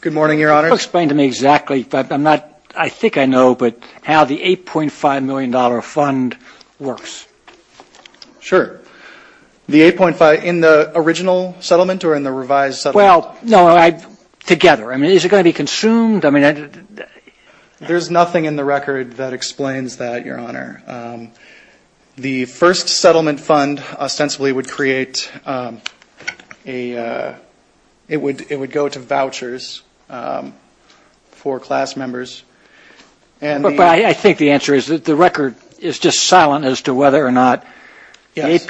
Good morning, Your Honor. Explain to me exactly, I'm not, I think I know, but how the $8.5 million fund works. Sure. The 8.5, in the original settlement or in the revised settlement? Well, no, I, together. I mean, is it going to be consumed? I mean... There's nothing in the record that explains that, Your Honor. The first settlement fund ostensibly would create a, it would go to vouchers for class members and... But I think the answer is that the record is just silent as to whether or not... Yes.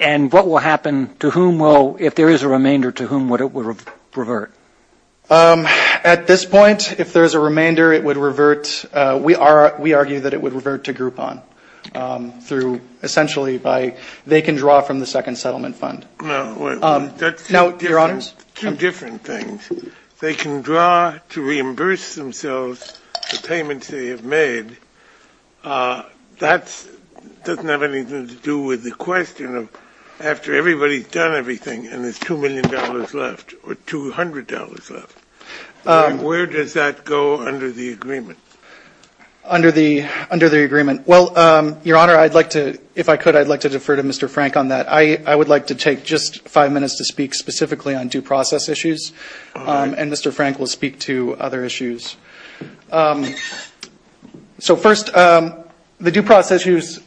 And what will happen to whom will, if there is a remainder, to whom would it revert? At this point, if there is a remainder, it would revert, we are, we argue that it would revert to Groupon. Through, essentially by, they can draw from the second settlement fund. No, wait. Now, Your Honors... Two different things. They can draw to reimburse themselves the payments they have made. That doesn't have anything to do with the question of, after everybody's done everything and there's $2 million left, or $200 left, where does that go under the agreement? Under the, under the agreement. Well, Your Honor, I'd like to, if I could, I'd like to defer to Mr. Frank on that. I would like to take just five minutes to speak specifically on due process issues. All right. And Mr. Frank will speak to other issues. So first, the due process issues,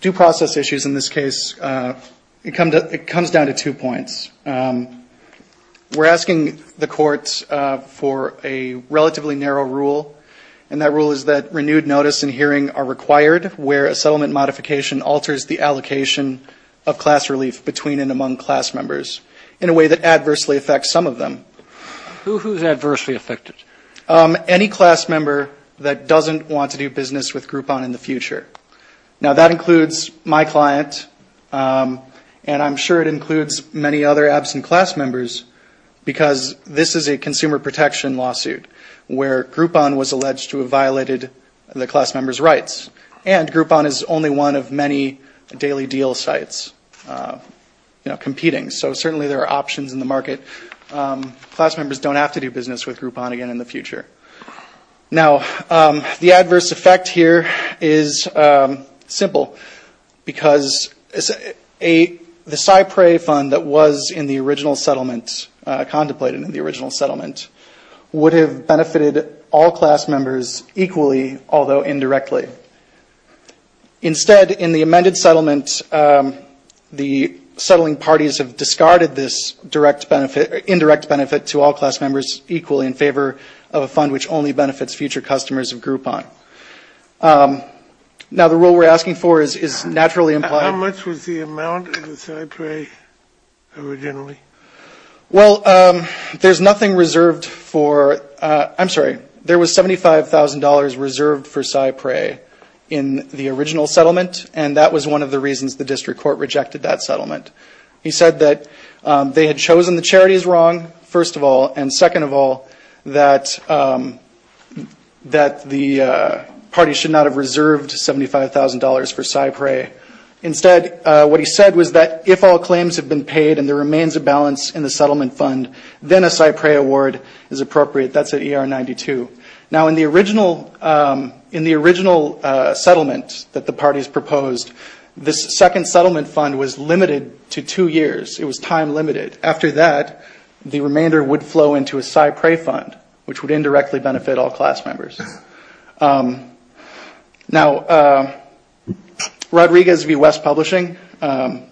due process issues in this case, it comes down to two points. We're asking the courts for a relatively narrow rule, and that rule is that renewed notice and hearing are required, where a settlement modification alters the allocation of class relief between and among class members, in a way that adversely affects some of them. Who's adversely affected? Any class member that doesn't want to do business with Groupon in the future. Now, that includes my client, and I'm sure it includes many other absent class members, because this is a consumer protection lawsuit, where Groupon was alleged to have violated the class member's rights. And Groupon is only one of many daily deal sites, you know, competing, so certainly there are options in the market. Class members don't have to do business with Groupon again in the future. Now, the adverse effect here is simple, because the CyPrey fund that was in the original settlement, contemplated in the original settlement, would have benefited all class members equally, although indirectly. Instead, in the amended settlement, the settling parties have discarded this indirect benefit to all class members equally, in favor of a fund which only benefits future customers of Groupon. Now, the rule we're asking for is naturally implied. How much was the amount of the CyPrey originally? Well, there's nothing reserved for, I'm sorry, there was $75,000 reserved for CyPrey in the original settlement, and that was one of the reasons the district court rejected that settlement. He said that they had chosen the charities wrong, first of all, and second of all, that the party should not have reserved $75,000 for CyPrey. Instead, what he said was that if all claims have been paid and there remains a balance in the settlement fund, then a CyPrey award is appropriate. That's at ER 92. Now, in the original settlement that the parties proposed, this second settlement fund was limited to two years. It was time limited. After that, the remainder would flow into a CyPrey fund, which would indirectly benefit all class members. Now, Rodriguez v. West Publishing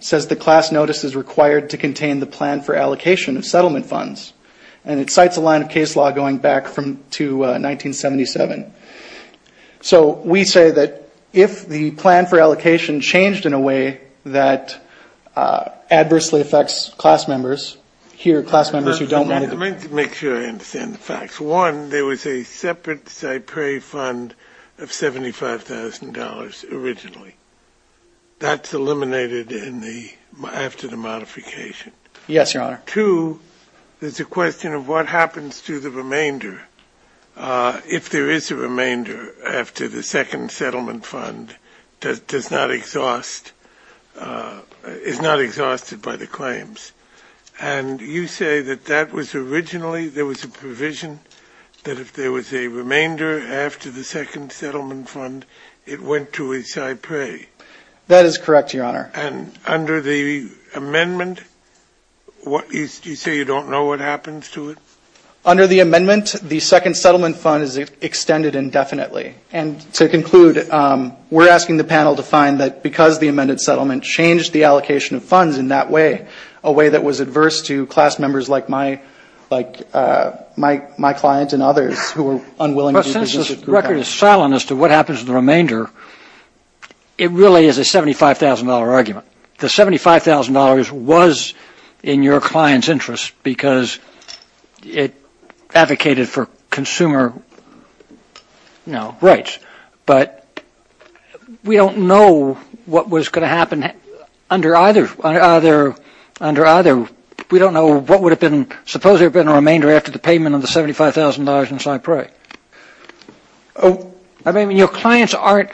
says the class notice is required to contain the plan for allocation of settlement funds, and it cites a line of case law going back to 1977. So we say that if the plan for allocation changed in a way that adversely affects class members, here are class members who don't want to go back. Let me make sure I understand the facts. One, there was a separate CyPrey fund of $75,000 originally. That's eliminated after the modification. Yes, Your Honor. Two, there's a question of what happens to the remainder if there is a remainder after the second settlement fund is not exhausted by the claims. And you say that that was originally, there was a provision that if there was a remainder after the second settlement fund, it went to a CyPrey. That is correct, Your Honor. And under the amendment, you say you don't know what happens to it? Under the amendment, the second settlement fund is extended indefinitely. And to conclude, we're asking the panel to find that because the amended settlement changed the allocation of funds in that way, a way that was adverse to class members like my client and others who were unwilling to do business with the plan. But since this record is silent as to what happens to the remainder, it really is a $75,000 argument. The $75,000 was in your client's interest because it advocated for consumer rights. But we don't know what was going to happen under either. We don't know what would have been, suppose there had been a remainder after the payment of the $75,000 in CyPrey. I mean, your clients aren't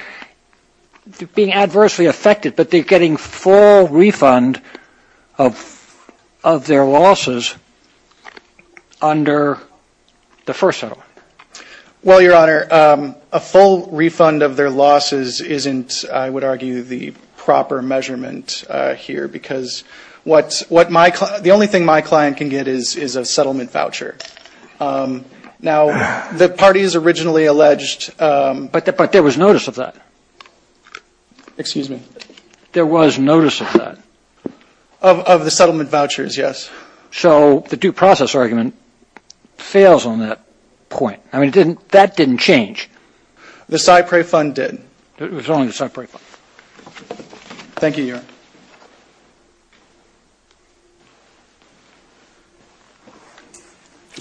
being adversely affected, but they're getting full refund of their losses under the first settlement. Well, Your Honor, a full refund of their losses isn't, I would argue, the proper measurement here, because the only thing my client can get is a settlement voucher. Now, the parties originally alleged. But there was notice of that. Excuse me? There was notice of that. Of the settlement vouchers, yes. So the due process argument fails on that point. I mean, that didn't change. The CyPrey fund did. It was only the CyPrey fund. Thank you, Your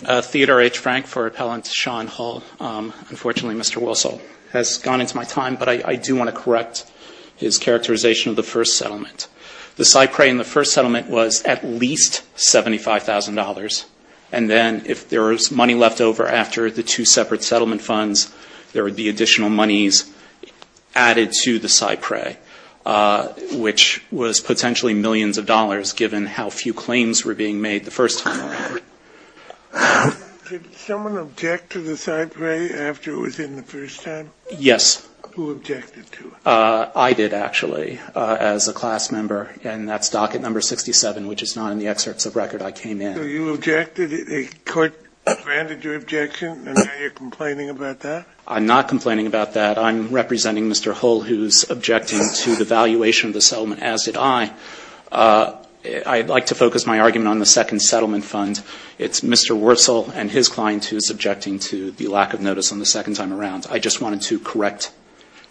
Honor. Theodore H. Frank for Appellant Sean Hull. Unfortunately, Mr. Wilson has gone into my time, but I do want to correct his characterization of the first settlement. The CyPrey in the first settlement was at least $75,000. And then if there was money left over after the two separate settlement funds, there would be additional monies added to the CyPrey, which was potentially millions of dollars, given how few claims were being made the first time around. Did someone object to the CyPrey after it was in the first time? Yes. Who objected to it? I did, actually, as a class member. And that's docket number 67, which is not in the excerpts of record I came in. So you objected, the court granted your objection, and now you're complaining about that? I'm not complaining about that. I'm representing Mr. Hull, who's objecting to the valuation of the settlement, as did I. I'd like to focus my argument on the second settlement fund. It's Mr. Wilson and his client who's objecting to the lack of notice on the second time around. I just wanted to correct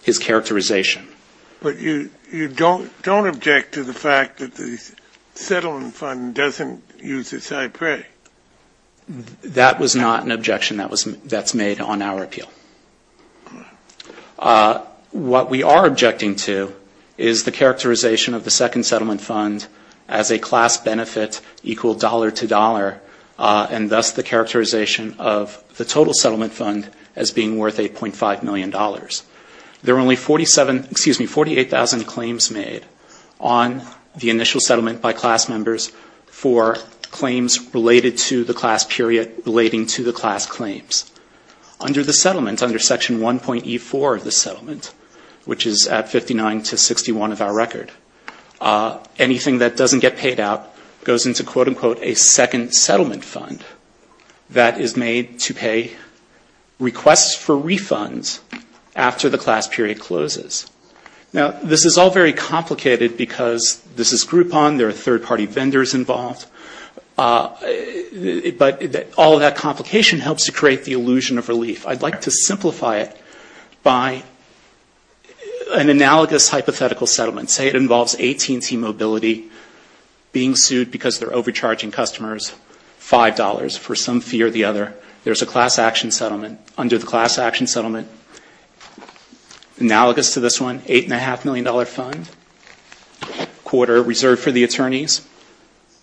his characterization. But you don't object to the fact that the settlement fund doesn't use the CyPrey? That was not an objection that's made on our appeal. What we are objecting to is the characterization of the second settlement fund as a class benefit equal dollar to dollar, and thus the characterization of the total settlement fund as being worth $8.5 million. There are only 48,000 claims made on the initial settlement by class members for claims related to the class period relating to the class claims. Under the settlement, under Section 1.E4 of the settlement, which is at 59 to 61 of our record, anything that doesn't get paid out goes into, quote, unquote, a second settlement fund that is made to pay requests for refunds after the class period closes. Now, this is all very complicated because this is Groupon. There are third-party vendors involved. But all of that complication helps to create the illusion of relief. I'd like to simplify it by an analogous hypothetical settlement. Say it involves AT&T Mobility being sued because they're overcharging customers $5 for some fee or the other. There's a class action settlement. Under the class action settlement, analogous to this one, $8.5 million fund, quarter reserved for the attorneys,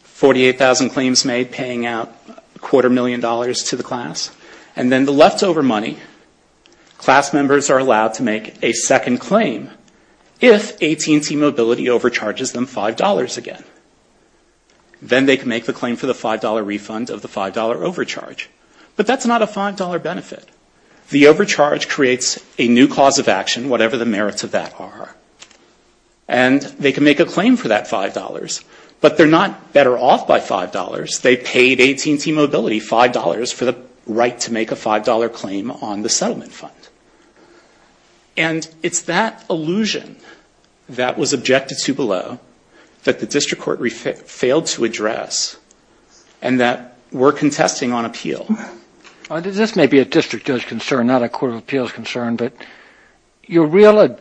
48,000 claims made paying out a quarter million dollars to the class. And then the leftover money, class members are allowed to make a second claim if AT&T Mobility overcharges them $5 again. Then they can make the claim for the $5 refund of the $5 overcharge. But that's not a $5 benefit. The overcharge creates a new cause of action, whatever the merits of that are. And they can make a claim for that $5, but they're not better off by $5. They paid AT&T Mobility $5 for the right to make a $5 claim on the settlement fund. And it's that illusion that was objected to below that the district court failed to address, and that we're contesting on appeal. This may be a district judge concern, not a court of appeals concern, but you're really,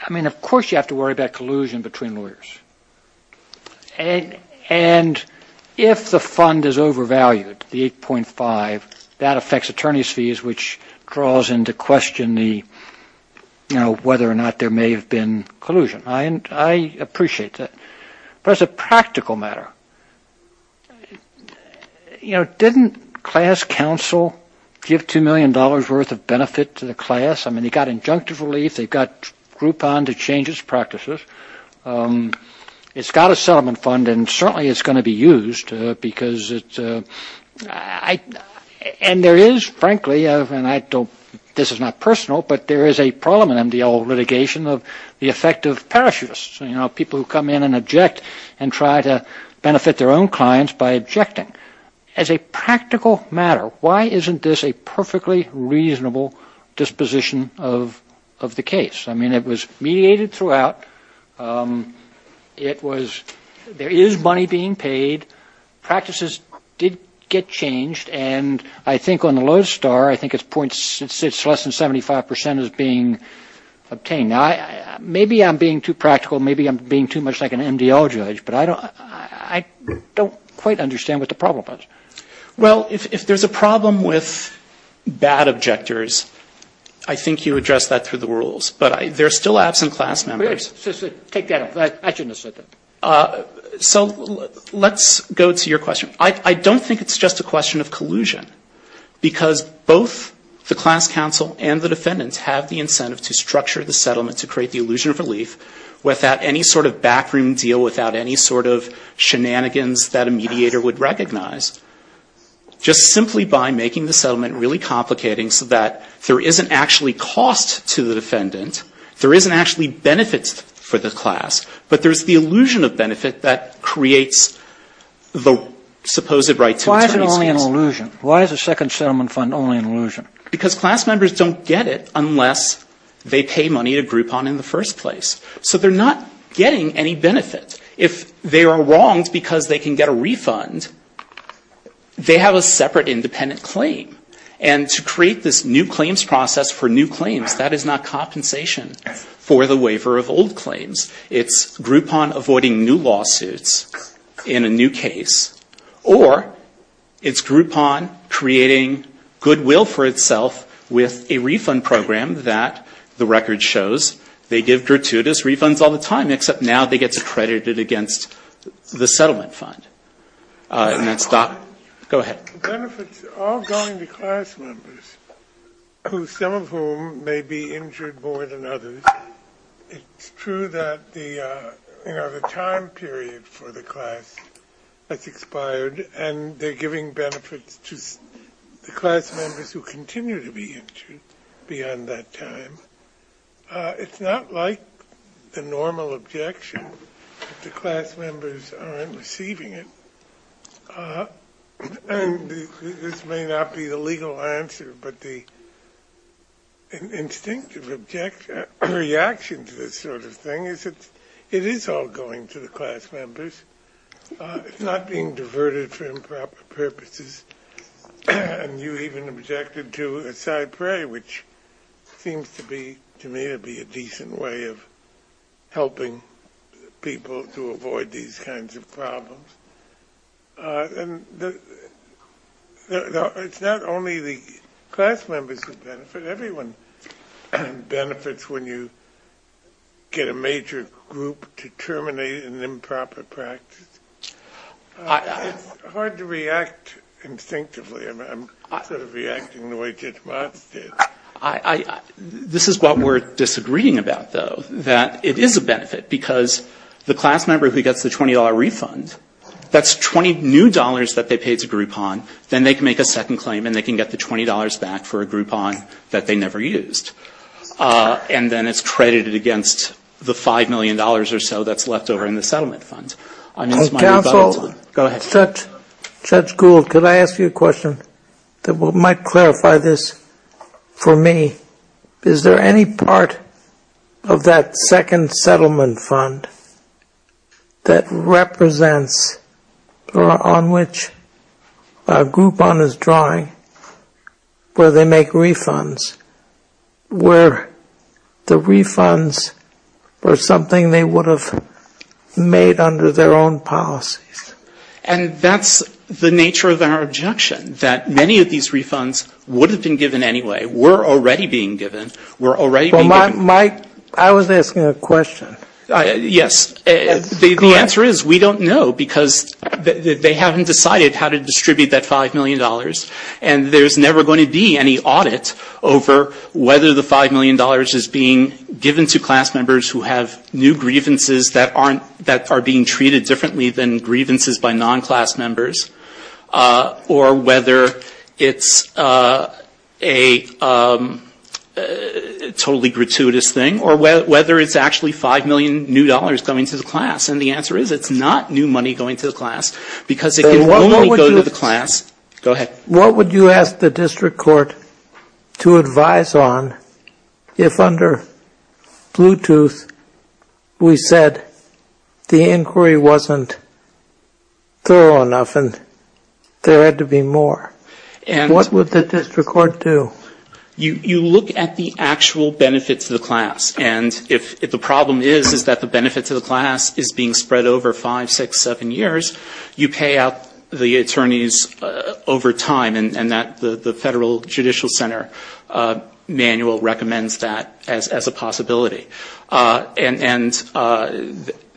I mean, of course you have to worry about collusion between lawyers. And if the fund is overvalued, the 8.5, that affects attorneys' fees, which draws into question the, you know, whether or not there may have been collusion. I appreciate that. But as a practical matter, you know, didn't class counsel give $2 million worth of benefit to the class? I mean, they've got injunctive relief, they've got Groupon to change its practices. It's got a settlement fund, and certainly it's going to be used because it's, and there is, frankly, and I don't, this is not personal, but there is a problem in MDL litigation of the effect of parachutists. You know, people who come in and object and try to benefit their own clients by objecting. As a practical matter, why isn't this a perfectly reasonable disposition of the case? I mean, it was mediated throughout, it was, there is money being paid, practices did get changed, and I think on the lowest star, I think it's less than 75 percent is being obtained. Now, maybe I'm being too practical, maybe I'm being too much like an MDL judge, but I don't quite understand what the problem is. Well, if there's a problem with bad objectors, I think you address that through the rules. But there are still absent class members. So let's go to your question. I don't think it's just a question of collusion, because both the class counsel and the defendants have the incentive to structure the settlement to create the illusion of relief without any sort of backroom deal, without any sort of shenanigans that a mediator would recognize. Just simply by making the settlement really complicating so that there isn't actually cost to the defendant, there isn't actually benefit for the class, but there's the illusion of benefit that creates the supposed right to attorney's fees. Why is it only an illusion? Because class members don't get it unless they pay money to Groupon in the first place. So they're not getting any benefit. If they are wronged because they can get a refund, they have a separate independent claim. And to create this new claims process for new claims, that is not compensation for the waiver of old claims. It's Groupon avoiding new lawsuits in a new case, or it's Groupon creating goodwill for itself with a refund program that the record shows they give gratuitous fees. They give gratuitous refunds all the time, except now they get accredited against the settlement fund. Go ahead. Benefits are going to class members, some of whom may be injured more than others. It's true that the time period for the class has expired, and they're giving benefits to the class members who continue to be injured beyond that time. It's not like the normal objection, that the class members aren't receiving it. And this may not be the legal answer, but the instinctive reaction to this sort of thing is that it is all going to the class members. It's not being diverted for improper purposes. And you even objected to a side prayer, which seems to me to be a decent way of helping people to avoid these kinds of problems. It's not only the class members who benefit, everyone benefits when you get a major group to terminate an improper practice. It's hard to react instinctively. This is what we're disagreeing about, though, that it is a benefit, because the class member who gets the $20 refund, that's 20 new dollars that they paid to Groupon. Then they can make a second claim, and they can get the $20 back for a Groupon that they never used. And then it's credited against the $5 million or so that's left over in the settlement fund. Counsel, Judge Gould, could I ask you a question that might clarify this for me? Is there any part of that second settlement fund that represents or on which Groupon is drawing where they make refunds, where the refunds were something they would have made under their own power? And that's the nature of our objection, that many of these refunds would have been given anyway, were already being given, were already being given. Well, Mike, I was asking a question. Yes. The answer is we don't know, because they haven't decided how to distribute that $5 million. And there's never going to be any audit over whether the $5 million is being given to class members who have new grievances that aren't, that are being treated differently than the $5 million. And the answer is, it's not new money going to the class, because it can only go to the class. What would you ask the district court to advise on if under Bluetooth we said the inquiry wasn't going to the class? It wasn't thorough enough, and there had to be more. What would the district court do? You look at the actual benefits to the class, and if the problem is, is that the benefit to the class is being spread over five, six, seven years, you pay out the attorneys over time, and the Federal Judicial Center manual recommends that as a possibility. And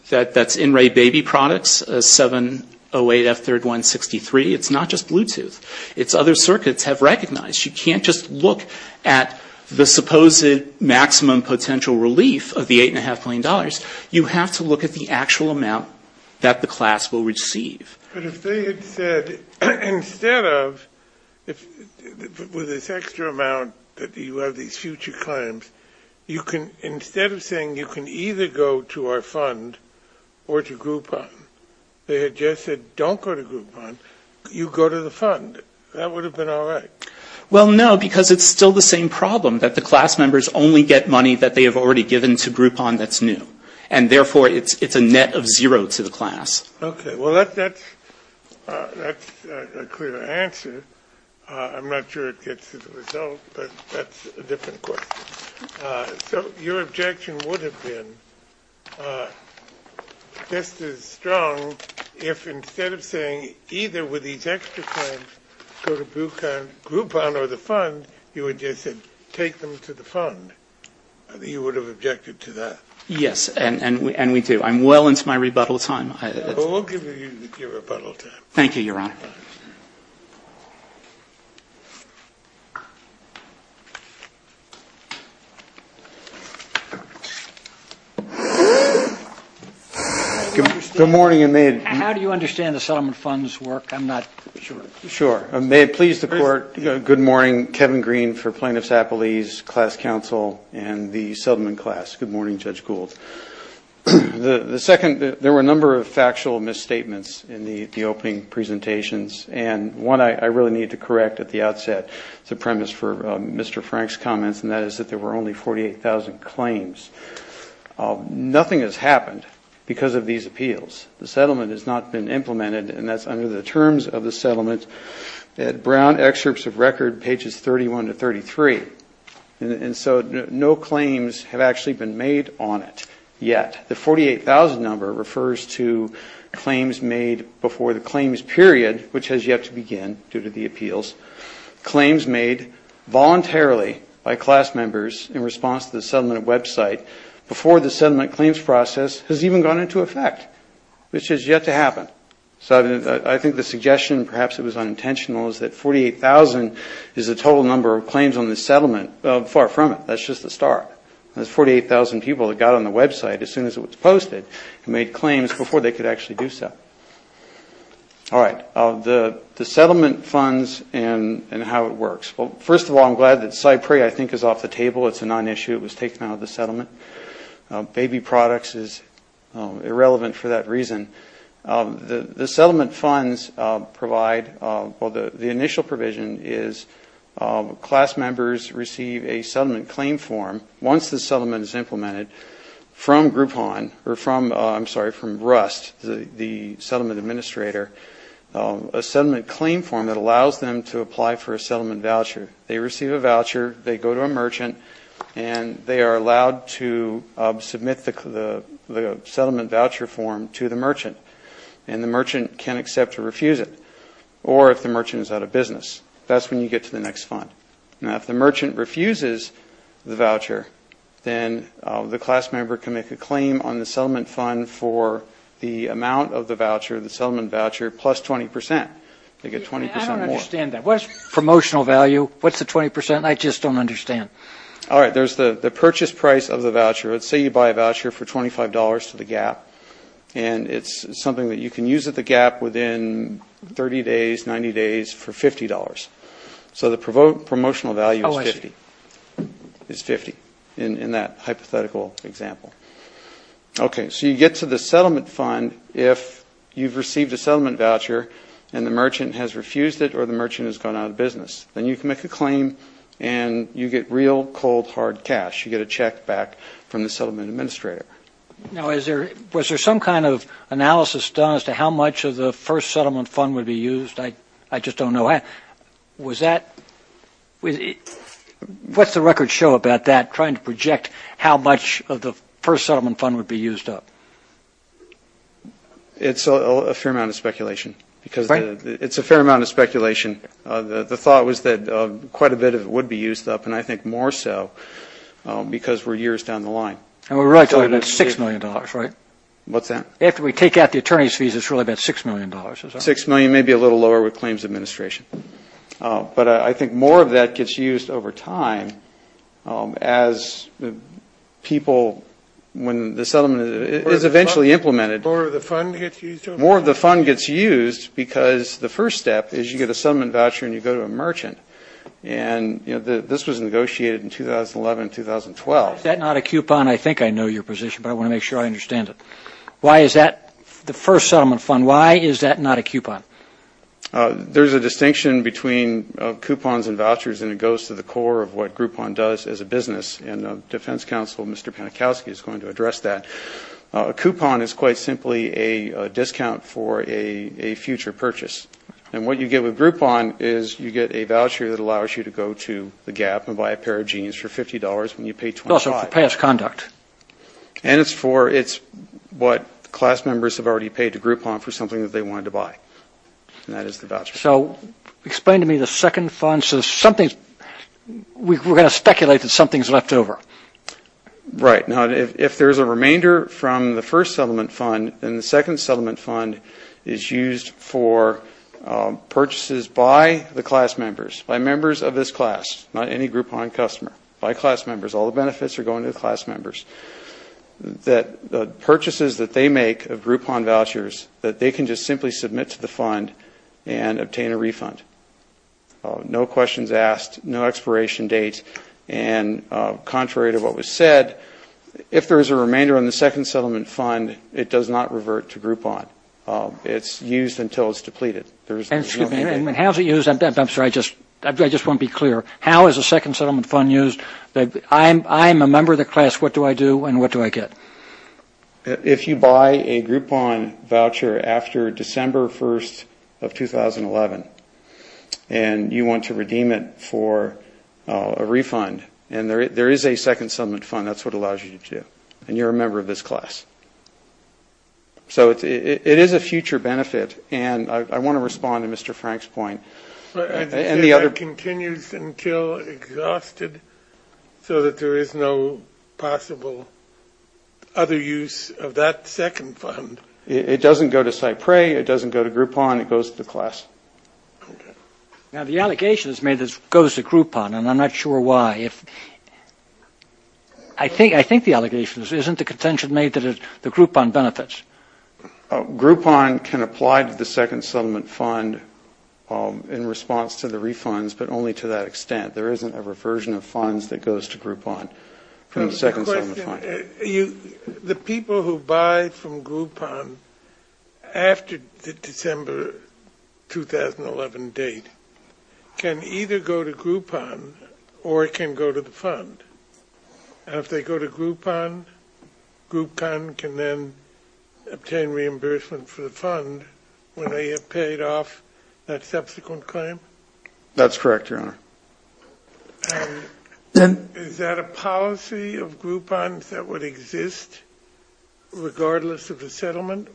that's In-Ray Baby Products, 708F3163. It's not just Bluetooth. It's other circuits have recognized. You can't just look at the supposed maximum potential relief of the $8.5 million. You have to look at the actual amount that the class will receive. But if they had said, instead of, with this extra amount that you have these future claims, you can instead of looking at the actual amount that the class will receive, you can look at the actual amount that the class will receive. Instead of saying you can either go to our fund or to Groupon, they had just said, don't go to Groupon, you go to the fund. That would have been all right. Well, no, because it's still the same problem, that the class members only get money that they have already given to Groupon that's new, and therefore it's a net of zero to the class. Okay. Well, that's a clear answer. I'm not sure it gets to the result, but that's a different question. So your objection would have been just as strong if instead of saying either with these extra claims go to Groupon or the fund, you would just have said, take them to the fund. You would have objected to that. Yes, and we do. I'm well into my rebuttal time. Well, we'll give you your rebuttal time. Good morning. How do you understand the settlement funds work? I'm not sure. Sure. May it please the Court, good morning, Kevin Green for Plaintiffs Appellees, Class Counsel, and the settlement class. Good morning, Judge Gould. The second, there were a number of factual misstatements in the opening presentations, and one I really need to correct at the outset. It's a premise for Mr. Frank's comments, and that is that there were only 48,000 claims. Nothing has happened because of these appeals. The settlement has not been implemented, and that's under the terms of the settlement. Brown excerpts of record, pages 31 to 33, and so no claims have actually been made on it yet. The 48,000 number refers to claims made before the claims period, which has yet to begin due to the appeals. Claims made voluntarily by class members in response to the settlement website before the settlement claims process has even gone into effect, which has yet to happen. So I think the suggestion, perhaps it was unintentional, is that 48,000 is the total number of claims on this settlement. Far from it. That's just the start. That's 48,000 people that got on the website as soon as it was posted and made claims before they could actually do so. All right. The settlement funds and how it works. Well, first of all, I'm glad that Cypre I think is off the table. It's a non-issue. It was taken out of the settlement. Baby products is irrelevant for that reason. The settlement funds provide, well, the initial provision is class members receive a settlement claim form once the settlement is implemented from Groupon, or from, I'm sorry, from RUST, the settlement administrator, a settlement claim form that allows them to apply for a settlement voucher. They receive a voucher, they go to a merchant, and they are allowed to submit the settlement voucher form to the merchant. And the merchant can accept or refuse it, or if the merchant is out of business. That's when you get to the next fund. Now, if the merchant refuses the voucher, then the class member can make a claim on the settlement fund for the amount of the voucher, the settlement voucher, plus 20 percent. I don't understand that. What is promotional value? What's the 20 percent? I just don't understand. All right. There's the purchase price of the voucher. Let's say you buy a voucher for $25 to the gap. And it's something that you can use at the gap within 30 days, 90 days for $50. So the promotional value is 50 in that hypothetical example. Okay. So you get to the settlement fund if you've received a settlement voucher and the merchant has refused it or the merchant has gone out of business. Then you can make a claim, and you get real cold, hard cash. You get a check back from the settlement administrator. Now, was there some kind of analysis done as to how much of the first settlement fund would be used? I just don't know. What's the record show about that, trying to project how much of the first settlement fund would be used up? It's a fair amount of speculation. The thought was that quite a bit of it would be used up, and I think more so, because we're years down the line. And we're really talking about $6 million, right? What's that? $6 million, maybe a little lower with claims administration. But I think more of that gets used over time as people, when the settlement is eventually implemented. More of the fund gets used? More of the fund gets used because the first step is you get a settlement voucher and you go to a merchant. And this was negotiated in 2011, 2012. Is that not a coupon? I think I know your position, but I want to make sure I understand it. Why is that, the first settlement fund, why is that not a coupon? There's a distinction between coupons and vouchers, and it goes to the core of what Groupon does as a business, and the defense counsel, Mr. Panikowsky, is going to address that. A coupon is quite simply a discount for a future purchase. And what you get with Groupon is you get a voucher that allows you to go to the GAP and buy a pair of jeans for $50 when you pay $25. And it's what class members have already paid to Groupon for something that they wanted to buy, and that is the voucher. So explain to me the second fund. We're going to speculate that something's left over. Right. Now, if there's a remainder from the first settlement fund, then the second settlement fund is used for purchases by the class members, by members of this class, not any Groupon customer, by class members. All the benefits are going to the class members. The purchases that they make of Groupon vouchers that they can just simply submit to the fund and obtain a refund. No questions asked, no expiration date, and contrary to what was said, if there is a remainder on the second settlement fund, it does not revert to Groupon. It's used until it's depleted. And how is it used? I'm sorry, I just want to be clear. How is a second settlement fund used? I'm a member of the class. What do I do and what do I get? If you buy a Groupon voucher after December 1st of 2011, and you want to redeem it for a refund, and there is a second settlement fund, that's what it allows you to do, and you're a member of this class. So it is a future benefit, and I want to respond to Mr. Frank's point. And the other... It doesn't go to Cypre, it doesn't go to Groupon, it goes to the class. Now, the allegation is made that it goes to Groupon, and I'm not sure why. I think the allegation is, isn't the contention made that the Groupon benefits? Groupon can apply to the second settlement fund in response to the refunds, but only to that extent. There isn't a reversion of funds that goes to Groupon from the second settlement fund. The people who buy from Groupon after the December 2011 date can either go to Groupon or it can go to Cypre. And if they go to Groupon, Groupon can then obtain reimbursement for the fund when they have paid off that subsequent claim? That's correct, Your Honor. And is that a policy of Groupon that would exist regardless of the settlement?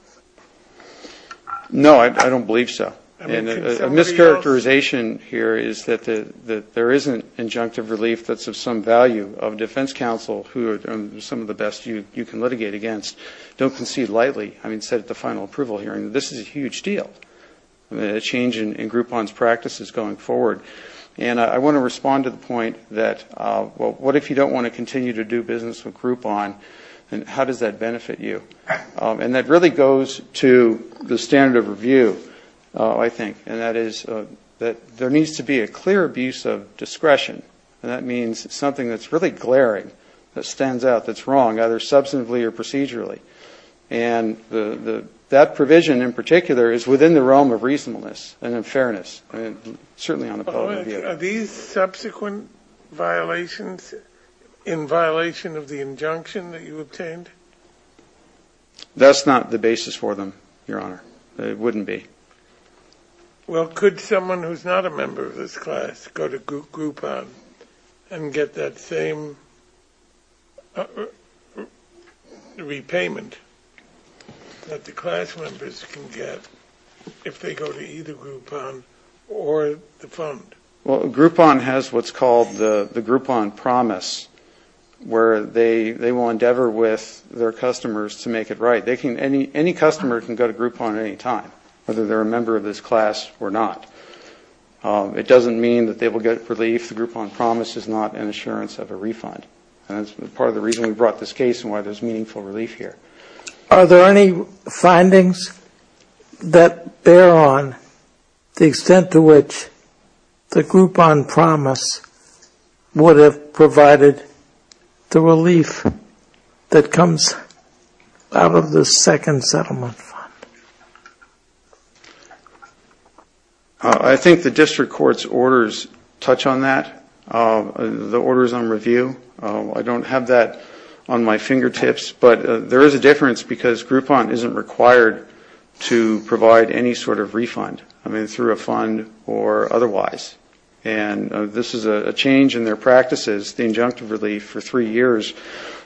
No, I don't believe so. And a mischaracterization here is that there isn't injunctive relief that's of some value of defense counsel who are some of the best you can litigate against, don't concede lightly. I mean, said at the final approval hearing, this is a huge deal, a change in Groupon's practices going forward. And I want to respond to the point that, well, what if you don't want to continue to do business with Groupon, and how does that benefit you? And that really goes to the standard of review, I think, and that is that there needs to be a clear abuse of discretion. And that means something that's really glaring, that stands out, that's wrong, either substantively or procedurally. And that provision in particular is within the realm of reasonableness and in fairness, certainly on the public view. Are these subsequent violations in violation of the injunction that you obtained? That's not the basis for them, Your Honor. It wouldn't be. Well, could someone who's not a member of this class go to Groupon and get that same repayment that the class members can get if they go to either Groupon or the fund? Well, Groupon has what's called the Groupon Promise, where they will endeavor with their customers to make a payment. Right. Any customer can go to Groupon at any time, whether they're a member of this class or not. It doesn't mean that they will get relief. The Groupon Promise is not an assurance of a refund. And that's part of the reason we brought this case and why there's meaningful relief here. Are there any findings that bear on the extent to which the Groupon Promise would have provided the relief that comes, I don't know, of the second settlement fund? I think the district court's orders touch on that, the orders on review. I don't have that on my fingertips, but there is a difference because Groupon isn't required to provide any sort of refund, I mean, through a fund or otherwise. And this is a change in their practices, the injunctive relief for three years,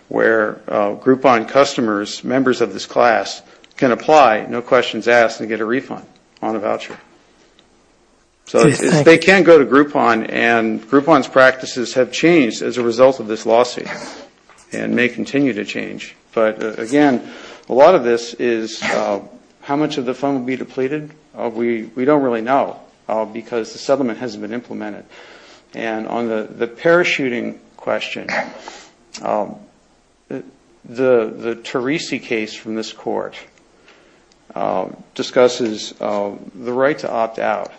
where Groupon customers, members of the class, can apply, no questions asked, and get a refund on a voucher. So they can go to Groupon, and Groupon's practices have changed as a result of this lawsuit and may continue to change. But again, a lot of this is how much of the fund will be depleted. We don't really know because the settlement hasn't been implemented. And on the parachuting question, the Therese case, for example, is a case where the settlement has been implemented. And this court discusses the right to opt out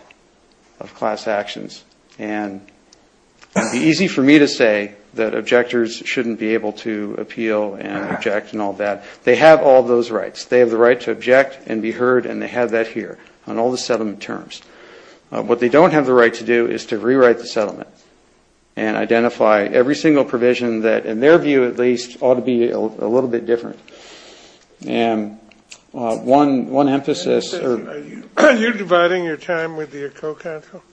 of class actions. And it would be easy for me to say that objectors shouldn't be able to appeal and object and all that. They have all those rights. They have the right to object and be heard, and they have that here on all the settlement terms. What they don't have the right to do is to rewrite the settlement and identify every single provision that, in their view at least, ought to be a little bit different. And one emphasis... Are you dividing your time with your co-counsel?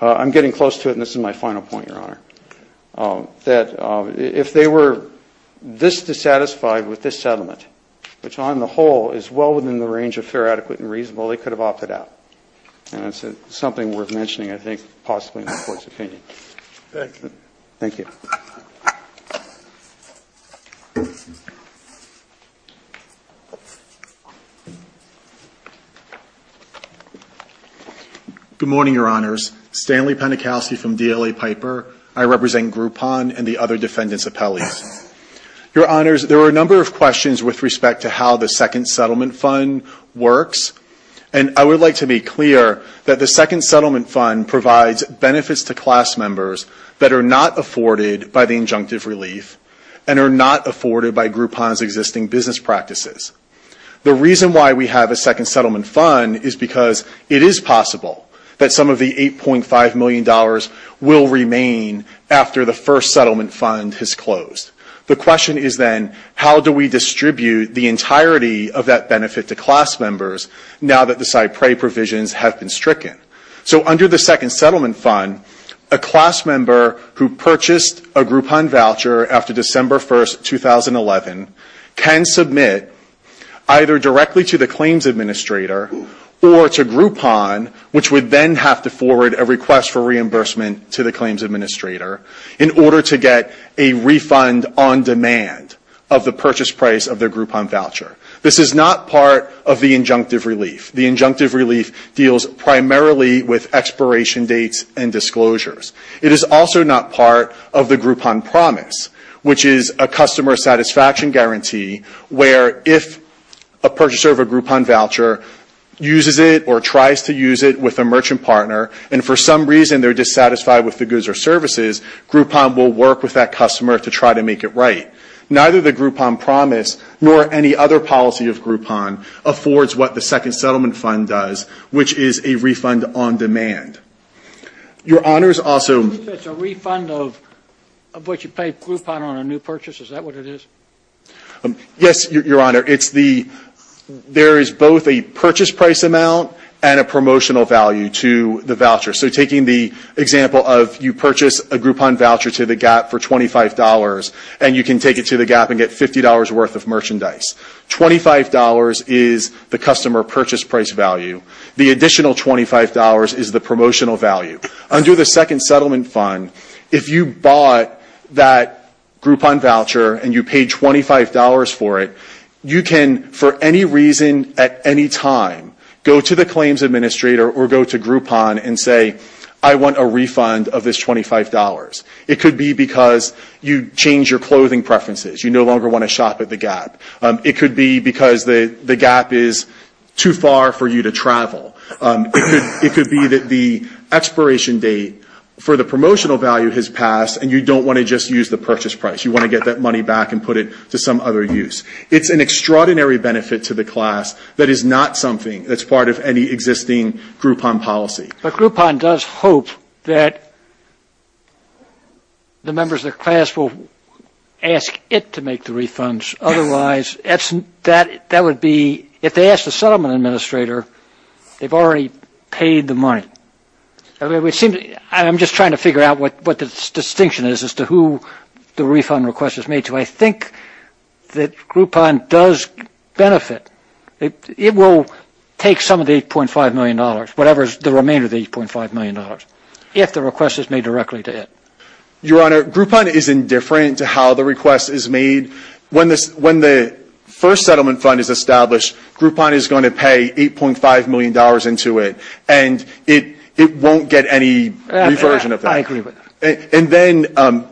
I'm getting close to it, and this is my final point, Your Honor, that if they were this dissatisfied with this settlement, which on the whole is well within the range of fair, adequate, and reasonable, they could have opted out. And it's something worth mentioning, I think, possibly in the Court's opinion. Thank you. Good morning, Your Honors. Stanley Penikowsky from DLA Piper. I represent Groupon and the other defendants' appellees. Your Honors, there are a number of questions with respect to how the Second Settlement Fund works. And I would like to be clear that the Second Settlement Fund provides benefits to class members that are not afforded by the injunctive relief, and are not afforded by Groupon's existing business practices. The reason why we have a Second Settlement Fund is because it is possible that some of the $8.5 million will remain after the First Settlement Fund has closed. The question is then, how do we distribute the entirety of that benefit to class members now that the CyPRI provisions have been stricken? So under the Second Settlement Fund, a class member who purchased a Groupon voucher after December 1, 2011, can submit either directly to the claims administrator or to Groupon, which would then have to forward a request for reimbursement to the claims administrator, in order to get a refund on demand of the purchase price of their Groupon voucher. This is not part of the injunctive relief. The injunctive relief deals primarily with expiration dates and disclosures. It is also not part of the Groupon promise, which is a customer satisfaction guarantee, where if a purchaser of a Groupon voucher uses it or tries to use it with a merchant partner, and for some reason they are dissatisfied with the goods or services, Groupon will work with that customer to try to make it right. Neither the Groupon promise, nor any other policy of Groupon, affords what the Second Settlement Fund does, which is a refund on demand. Your Honor's also... Yes, Your Honor. There is both a purchase price amount and a promotional value to the voucher. So taking the example of you purchase a Groupon voucher to the GAP for $25, and you can take it to the GAP and get $50 worth of merchandise. $25 is the customer purchase price value. The additional $25 is the promotional value. Under the Second Settlement Fund, if you bought that Groupon voucher and you paid $25 for it, you can, for any reason at any time, go to the claims administrator or go to Groupon and say, I want a refund of this $25. It could be because you changed your clothing preferences. You no longer want to shop at the GAP. It could be because the GAP is too far for you to travel. It could be that the expiration date for the promotional value has passed, and you don't want to just use the purchase price. You want to get that money back and put it to some other use. It's an extraordinary benefit to the class that is not something that's part of any existing Groupon policy. But Groupon does hope that the members of the class will ask it to make the refunds. Otherwise, that would be, if they ask the settlement administrator, they've already paid the money. I'm just trying to figure out what the distinction is as to who the refund request is made to. I think that Groupon does benefit. It will take some of the $8.5 million, whatever is the remainder of the $8.5 million, if the request is made directly to it. Your Honor, Groupon is indifferent to how the request is made. When the first settlement fund is established, Groupon is going to pay $8.5 million into it, and it won't get any reversion of that. And then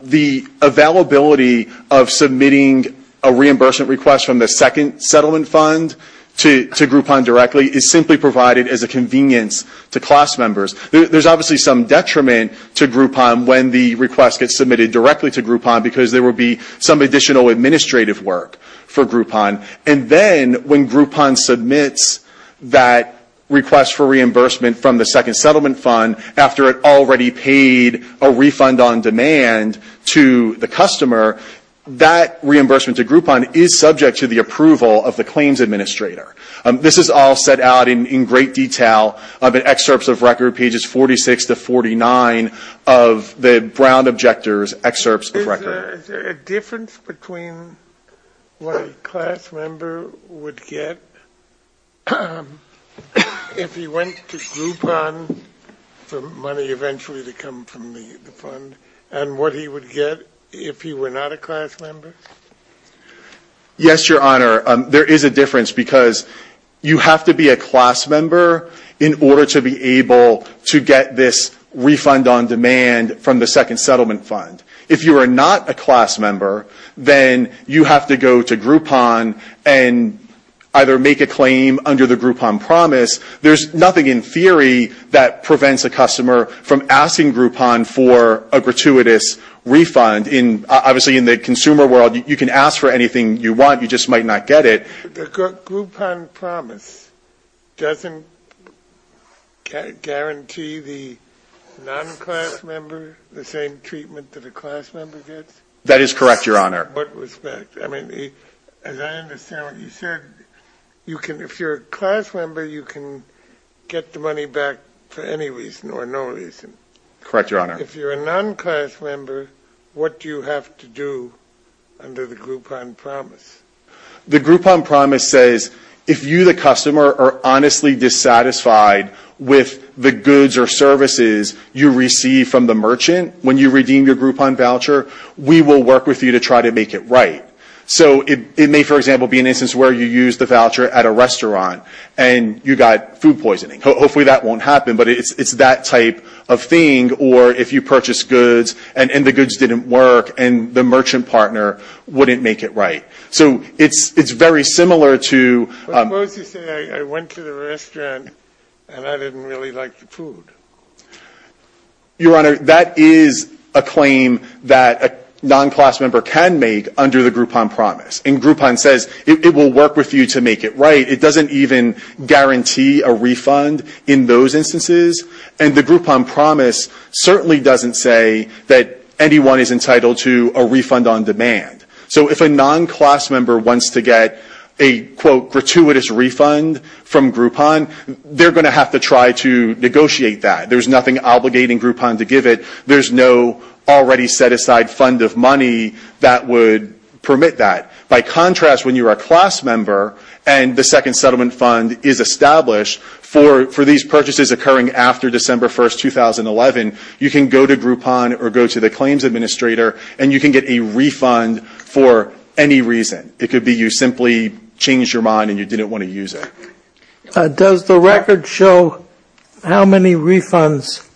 the availability of submitting a reimbursement request from the second settlement fund to Groupon directly is simply provided as a convenience to class members. There's obviously some detriment to Groupon when the request gets submitted directly to Groupon because there will be some additional administrative work for Groupon. And then when Groupon submits that request for reimbursement from the second settlement fund after it already paid a refund on demand to the customer, that reimbursement to Groupon is subject to the approval of the claims administrator. This is all set out in great detail in excerpts of record, pages 46 to 49 of the Brown Objectors excerpts of record. Is there a difference between what a class member would get if he went to Groupon for money eventually to come from the fund and what he would get if he were not a class member? Yes, Your Honor, there is a difference because you have to be a class member in order to be able to get this refund on demand from the second settlement fund. If you are not a class member, then you have to go to Groupon and either make a claim under the Groupon promise. There's nothing in theory that prevents a customer from asking Groupon for a gratuitous refund. Obviously, in the consumer world, you can ask for anything you want, you just might not get it. The Groupon promise doesn't guarantee the non-class member the same treatment that a class member gets? That is correct, Your Honor. As I understand what you said, if you're a class member, you can get the money back for any reason or no reason. If you're a non-class member, what do you have to do under the Groupon promise? The Groupon promise says if you, the customer, are honestly dissatisfied with the goods or services you receive from the merchant when you redeem your Groupon voucher, we will work with you to try to make it right. So it may, for example, be an instance where you use the voucher at a restaurant and you got food poisoning. Hopefully that won't happen, but it's that type of thing. Or if you purchase goods and the goods didn't work and the merchant partner wouldn't make it right. So it's very similar to... Your Honor, that is a claim that a non-class member can make under the Groupon promise. And Groupon says it will work with you to make it right. It doesn't even guarantee a refund in those instances. And the Groupon promise certainly doesn't say that anyone is entitled to a refund on demand. So if a non-class member wants to get a, quote, gratuitous refund from Groupon, they're going to have to try to negotiate that. There's nothing obligating Groupon to give it. There's no already set aside fund of money that would permit that. By contrast, when you're a class member and the Second Settlement Fund is established for these purchases occurring after December 1, 2011, you can go to Groupon or go to the claims administrator and you can get a refund for any reason. It could be you simply changed your mind and you didn't want to use it. Does the record show how many refunds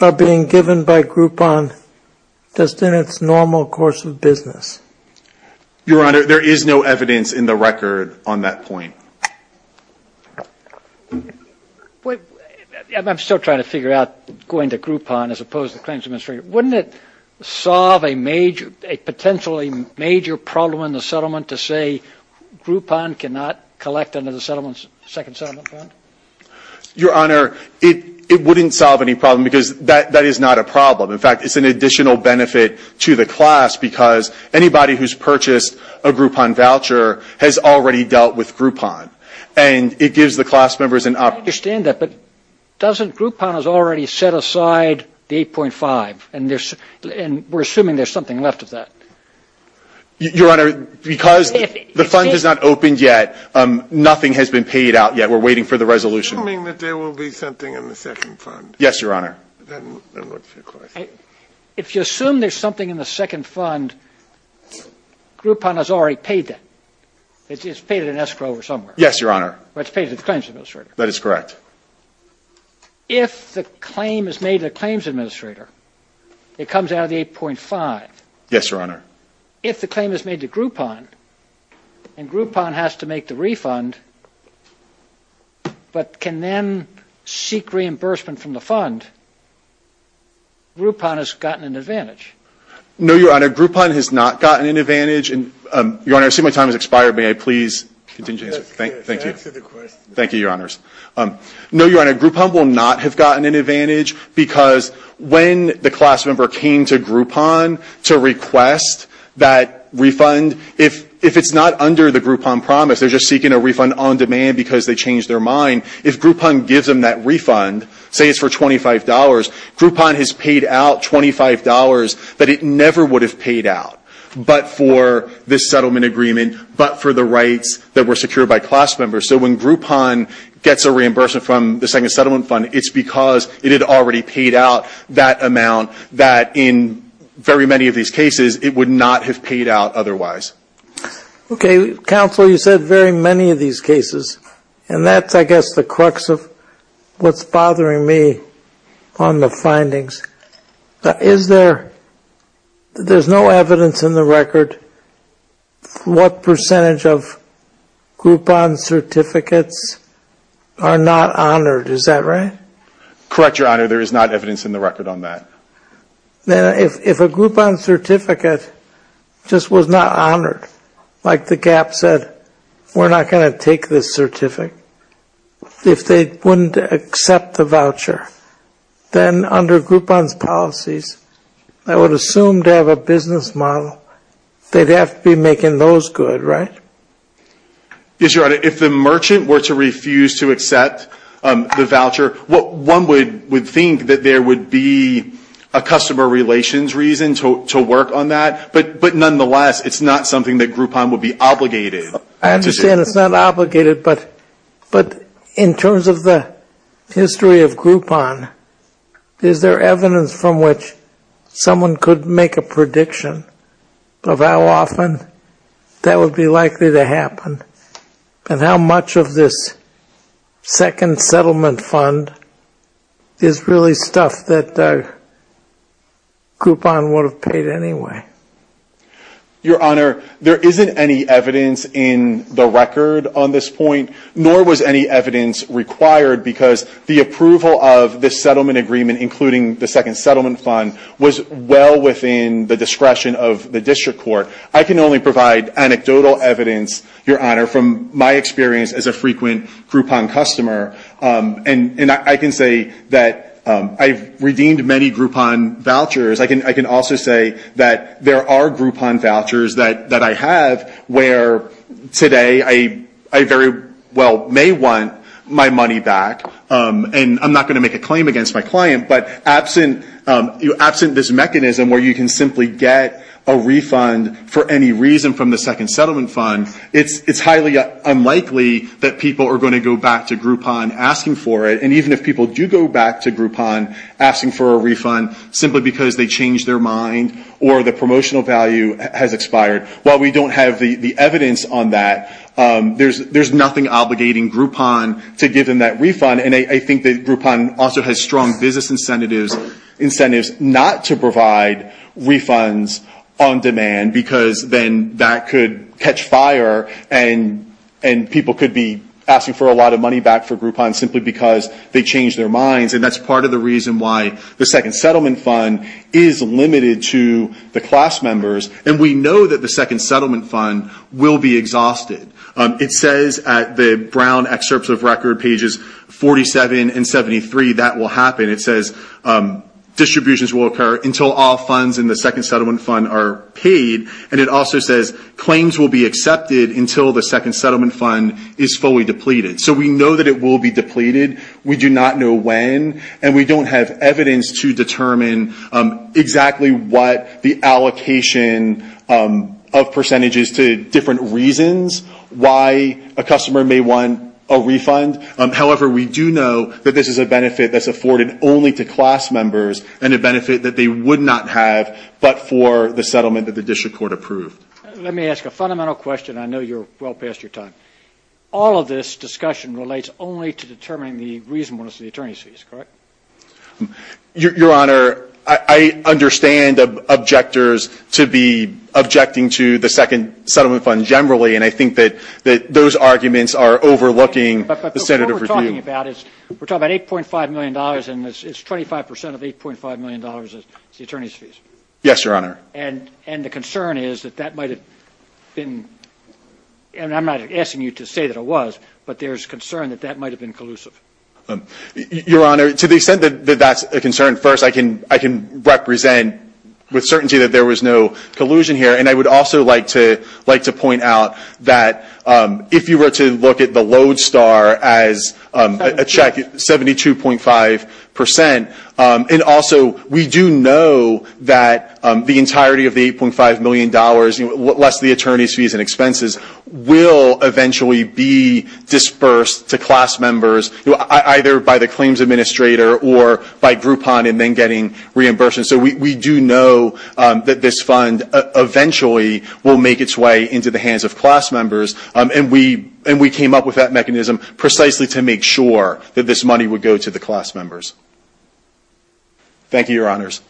are being given by Groupon just in its normal course of business? Your Honor, there is no evidence in the record on that point. I'm still trying to figure out going to Groupon as opposed to the claims administrator. Wouldn't it solve a potentially major problem in the settlement to say Groupon cannot collect under the Second Settlement Fund? Your Honor, it wouldn't solve any problem because that is not a problem. In fact, it's an additional benefit to the class because anybody who's purchased a Groupon voucher has already dealt with Groupon, and it gives the class members an opportunity. I understand that, but doesn't Groupon already set aside the 8.5, and we're assuming there's something left of that? Your Honor, because the fund has not opened yet, nothing has been paid out yet. We're waiting for the resolution. Assuming that there will be something in the Second Fund. Yes, Your Honor. If you assume there's something in the Second Fund, Groupon has already paid that. It's paid at an escrow or somewhere. Yes, Your Honor. If the claim is made to the claims administrator, it comes out of the 8.5. Yes, Your Honor. If the claim is made to Groupon, and Groupon has to make the refund but can then seek reimbursement from the fund, Groupon has gotten an advantage. No, Your Honor. Groupon has not gotten an advantage. Your Honor, I see my time has expired. May I please continue to answer? No, Your Honor. Groupon will not have gotten an advantage because when the class member came to Groupon to request that refund, if it's not under the Groupon promise, they're just seeking a refund on demand because they changed their mind. If Groupon gives them that refund, say it's for $25, Groupon has paid out $25 that it never would have paid out, but for this settlement agreement, but for the rights that were secured by class members. So when Groupon gets a reimbursement from the Second Settlement Fund, it's because it had already paid out that amount that in very many of these cases, it would not have paid out otherwise. Okay. Counselor, you said very many of these cases, and that's I guess the crux of what's bothering me on the findings. Is there, there's no evidence in the record what percentage of Groupon certificates are not honored. Is that right? Correct, Your Honor. There is not evidence in the record on that. Then if a Groupon certificate just was not honored, like the GAP said, we're not going to take this certificate, if they wouldn't accept the voucher, then under Groupon's policies, I would assume to have a business model, they'd have to be making those good, right? Yes, Your Honor. If the merchant were to refuse to accept the voucher, one would think that there would be a customer relations reason to work on that, but nonetheless, it's not something that Groupon would be obligated to do. I understand it's not obligated, but in terms of the history of Groupon, is there evidence from which someone could make a prediction of how often that would be likely to happen, and how much of this Second Settlement Fund is really stuff that Groupon would have paid anyway? Your Honor, there isn't any evidence in the record on this point, nor was any evidence required, because the approval of this settlement agreement, including the Second Settlement Fund, was well within the discretion of the district court. I can only provide anecdotal evidence, Your Honor, from my experience as a frequent Groupon customer, and I can say that I've redeemed many Groupon vouchers. I can also say that there are Groupon vouchers that I have, where today I very well may want my money back, and I'm not going to make a claim against my client, but absent this mechanism where you can simply get a refund for any reason from the Second Settlement Fund, it's highly unlikely that people are going to go back to Groupon asking for it, and even if people do go back to Groupon asking for a refund simply because they changed their mind or the promotional value has expired. While we don't have the evidence on that, there's nothing obligating Groupon to give them that refund, and I think that Groupon also has strong business incentives not to provide refunds on demand, because then that could catch fire and people could be asking for a lot of money back for Groupon simply because they changed their minds, and that's part of the reason why the Second Settlement Fund is limited to the class members, and we know that the Second Settlement Fund will be exhausted. It says at the Brown excerpts of record, pages 47 and 73, that will happen. It says distributions will occur until all funds in the Second Settlement Fund are paid, and it also says claims will be accepted until the Second Settlement Fund is fully depleted. So we know that it will be depleted. We do not know when, and we don't have evidence to determine exactly what the allocation of percentages to different reasons, why a customer may want a refund. However, we do know that this is a benefit that's afforded only to class members, and a benefit that they would not have but for the settlement that the district court approved. Let me ask a fundamental question. I know you're well past your time. All of this discussion relates only to determining the reasonableness of the attorney's fees, correct? Your Honor, I understand objectors to be objecting to the Second Settlement Fund generally, and I think that those arguments are overlooking the standard of review. We're talking about $8.5 million, and it's 25 percent of $8.5 million is the attorney's fees. Yes, Your Honor. And the concern is that that might have been, and I'm not asking you to say that it was, but there's concern that that might have been collusive. Your Honor, to the extent that that's a concern, first, I can represent with certainty that there was no collusion here, and I would also like to point out that if you were to look at the Lodestar as a check, 72.5 percent, and also we do know that the entirety of the $8.5 million, less the attorney's fees and expenses, will eventually be disbursed to class members, either by the claims administrator or by Groupon in then getting reimbursement. So we do know that this fund eventually will make its way into the hands of class members, and we came up with that mechanism precisely to make sure that this money would go to the class members. Thank you, Your Honors.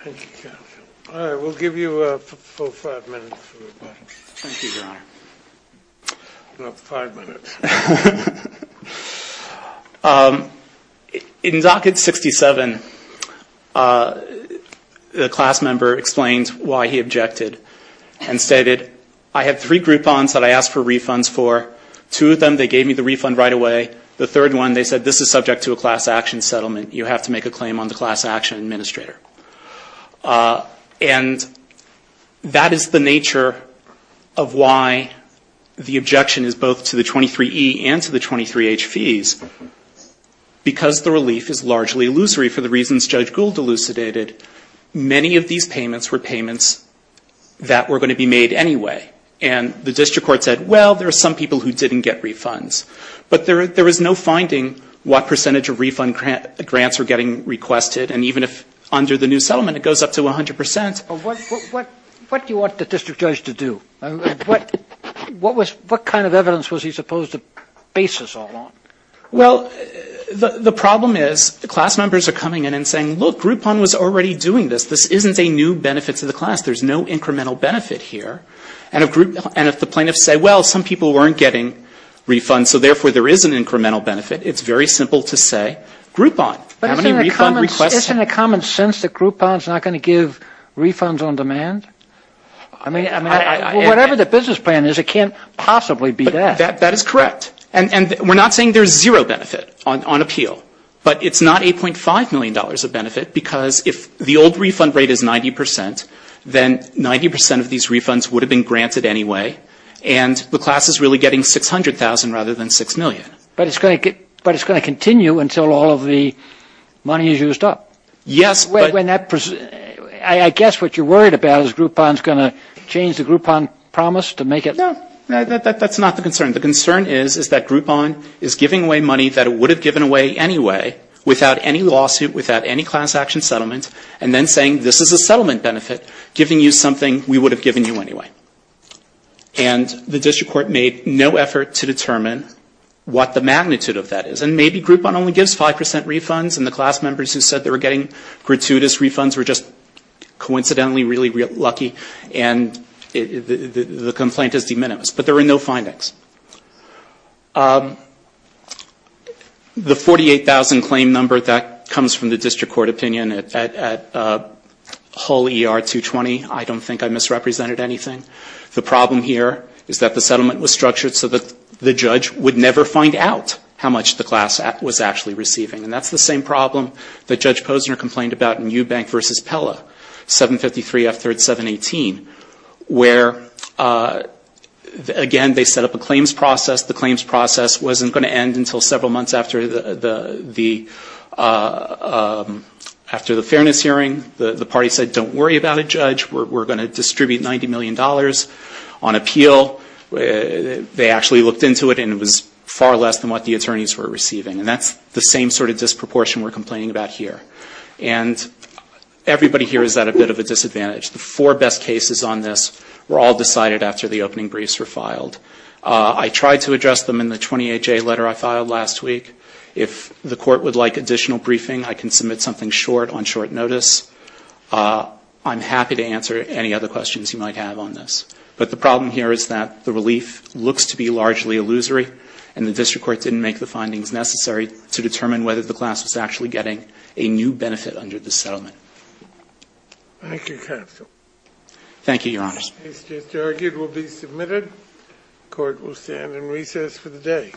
Thank you, counsel. In 1967, a class member explained why he objected and stated, I have three Groupons that I asked for refunds for. Two of them, they gave me the refund right away. The third one, they said, this is subject to a class action settlement. You have to make a claim on the class action administrator. And that is the nature of why the objection is both to the 23E and to the 23H fees. Because the relief is largely illusory for the reasons Judge Gould elucidated, many of these payments were payments that were going to be made anyway. And the district court said, well, there are some people who didn't get refunds. But there was no finding what percentage of refund grants were getting requested, and even if under the new settlement it goes up to 100 percent. What do you want the district judge to do? What kind of evidence was he supposed to base this all on? Well, the problem is class members are coming in and saying, look, Groupon was already doing this. This isn't a new benefit to the class. There's no incremental benefit here. And if the plaintiffs say, well, some people weren't getting refunds, so therefore there is an incremental benefit, it's very simple to say Groupon. How many refund requests? Isn't it common sense that Groupon is not going to give refunds on demand? I mean, whatever the business plan is, it can't possibly be that. That is correct. And we're not saying there's zero benefit on appeal. But it's not $8.5 million of benefit, because if the old refund rate is 90 percent, then 90 percent of these refunds would have been granted anyway, and the class is really getting 600,000 rather than 6 million. But it's going to continue until all of the money is used up? Yes. I guess what you're worried about is Groupon is going to change the Groupon promise to make it? No, that's not the concern. The concern is that Groupon is giving away money that it would have given away anyway without any lawsuit, without any class action settlement, and then saying this is a settlement benefit, giving you something we would have given you anyway. And the district court made no effort to determine what the magnitude of that is. And maybe Groupon only gives 5 percent refunds, and the class members who said they were getting gratuitous refunds were just coincidentally really lucky, and the complaint is de minimis. But there were no findings. The 48,000 claim number, that comes from the district court opinion at Hull ER 220. I don't think I misrepresented anything. The problem here is that the settlement was structured so that the judge would never find out how much the class was actually receiving. And that's the same problem that Judge Posner complained about in Eubank v. Pella, 753F3718, where, again, they set up a claims process. The claims process wasn't going to end until several months after the fairness hearing. The party said, don't worry about it, Judge, we're going to distribute $90 million on appeal. They actually looked into it, and it was far less than what the attorneys were receiving. And that's the same sort of disproportion we're complaining about here. And everybody here is at a bit of a disadvantage. The four best cases on this were all decided after the opening briefs were filed. I tried to address them in the 28J letter I filed last week. If the court would like additional briefing, I can submit something short on short notice. I'm happy to answer any other questions you might have on this. But the problem here is that the relief looks to be largely illusory, and the district court didn't make the findings necessary to determine whether the class was actually getting a new benefit under this settlement. Thank you, counsel. Thank you, Your Honor. The case is argued and will be submitted. The court will stand in recess for the day.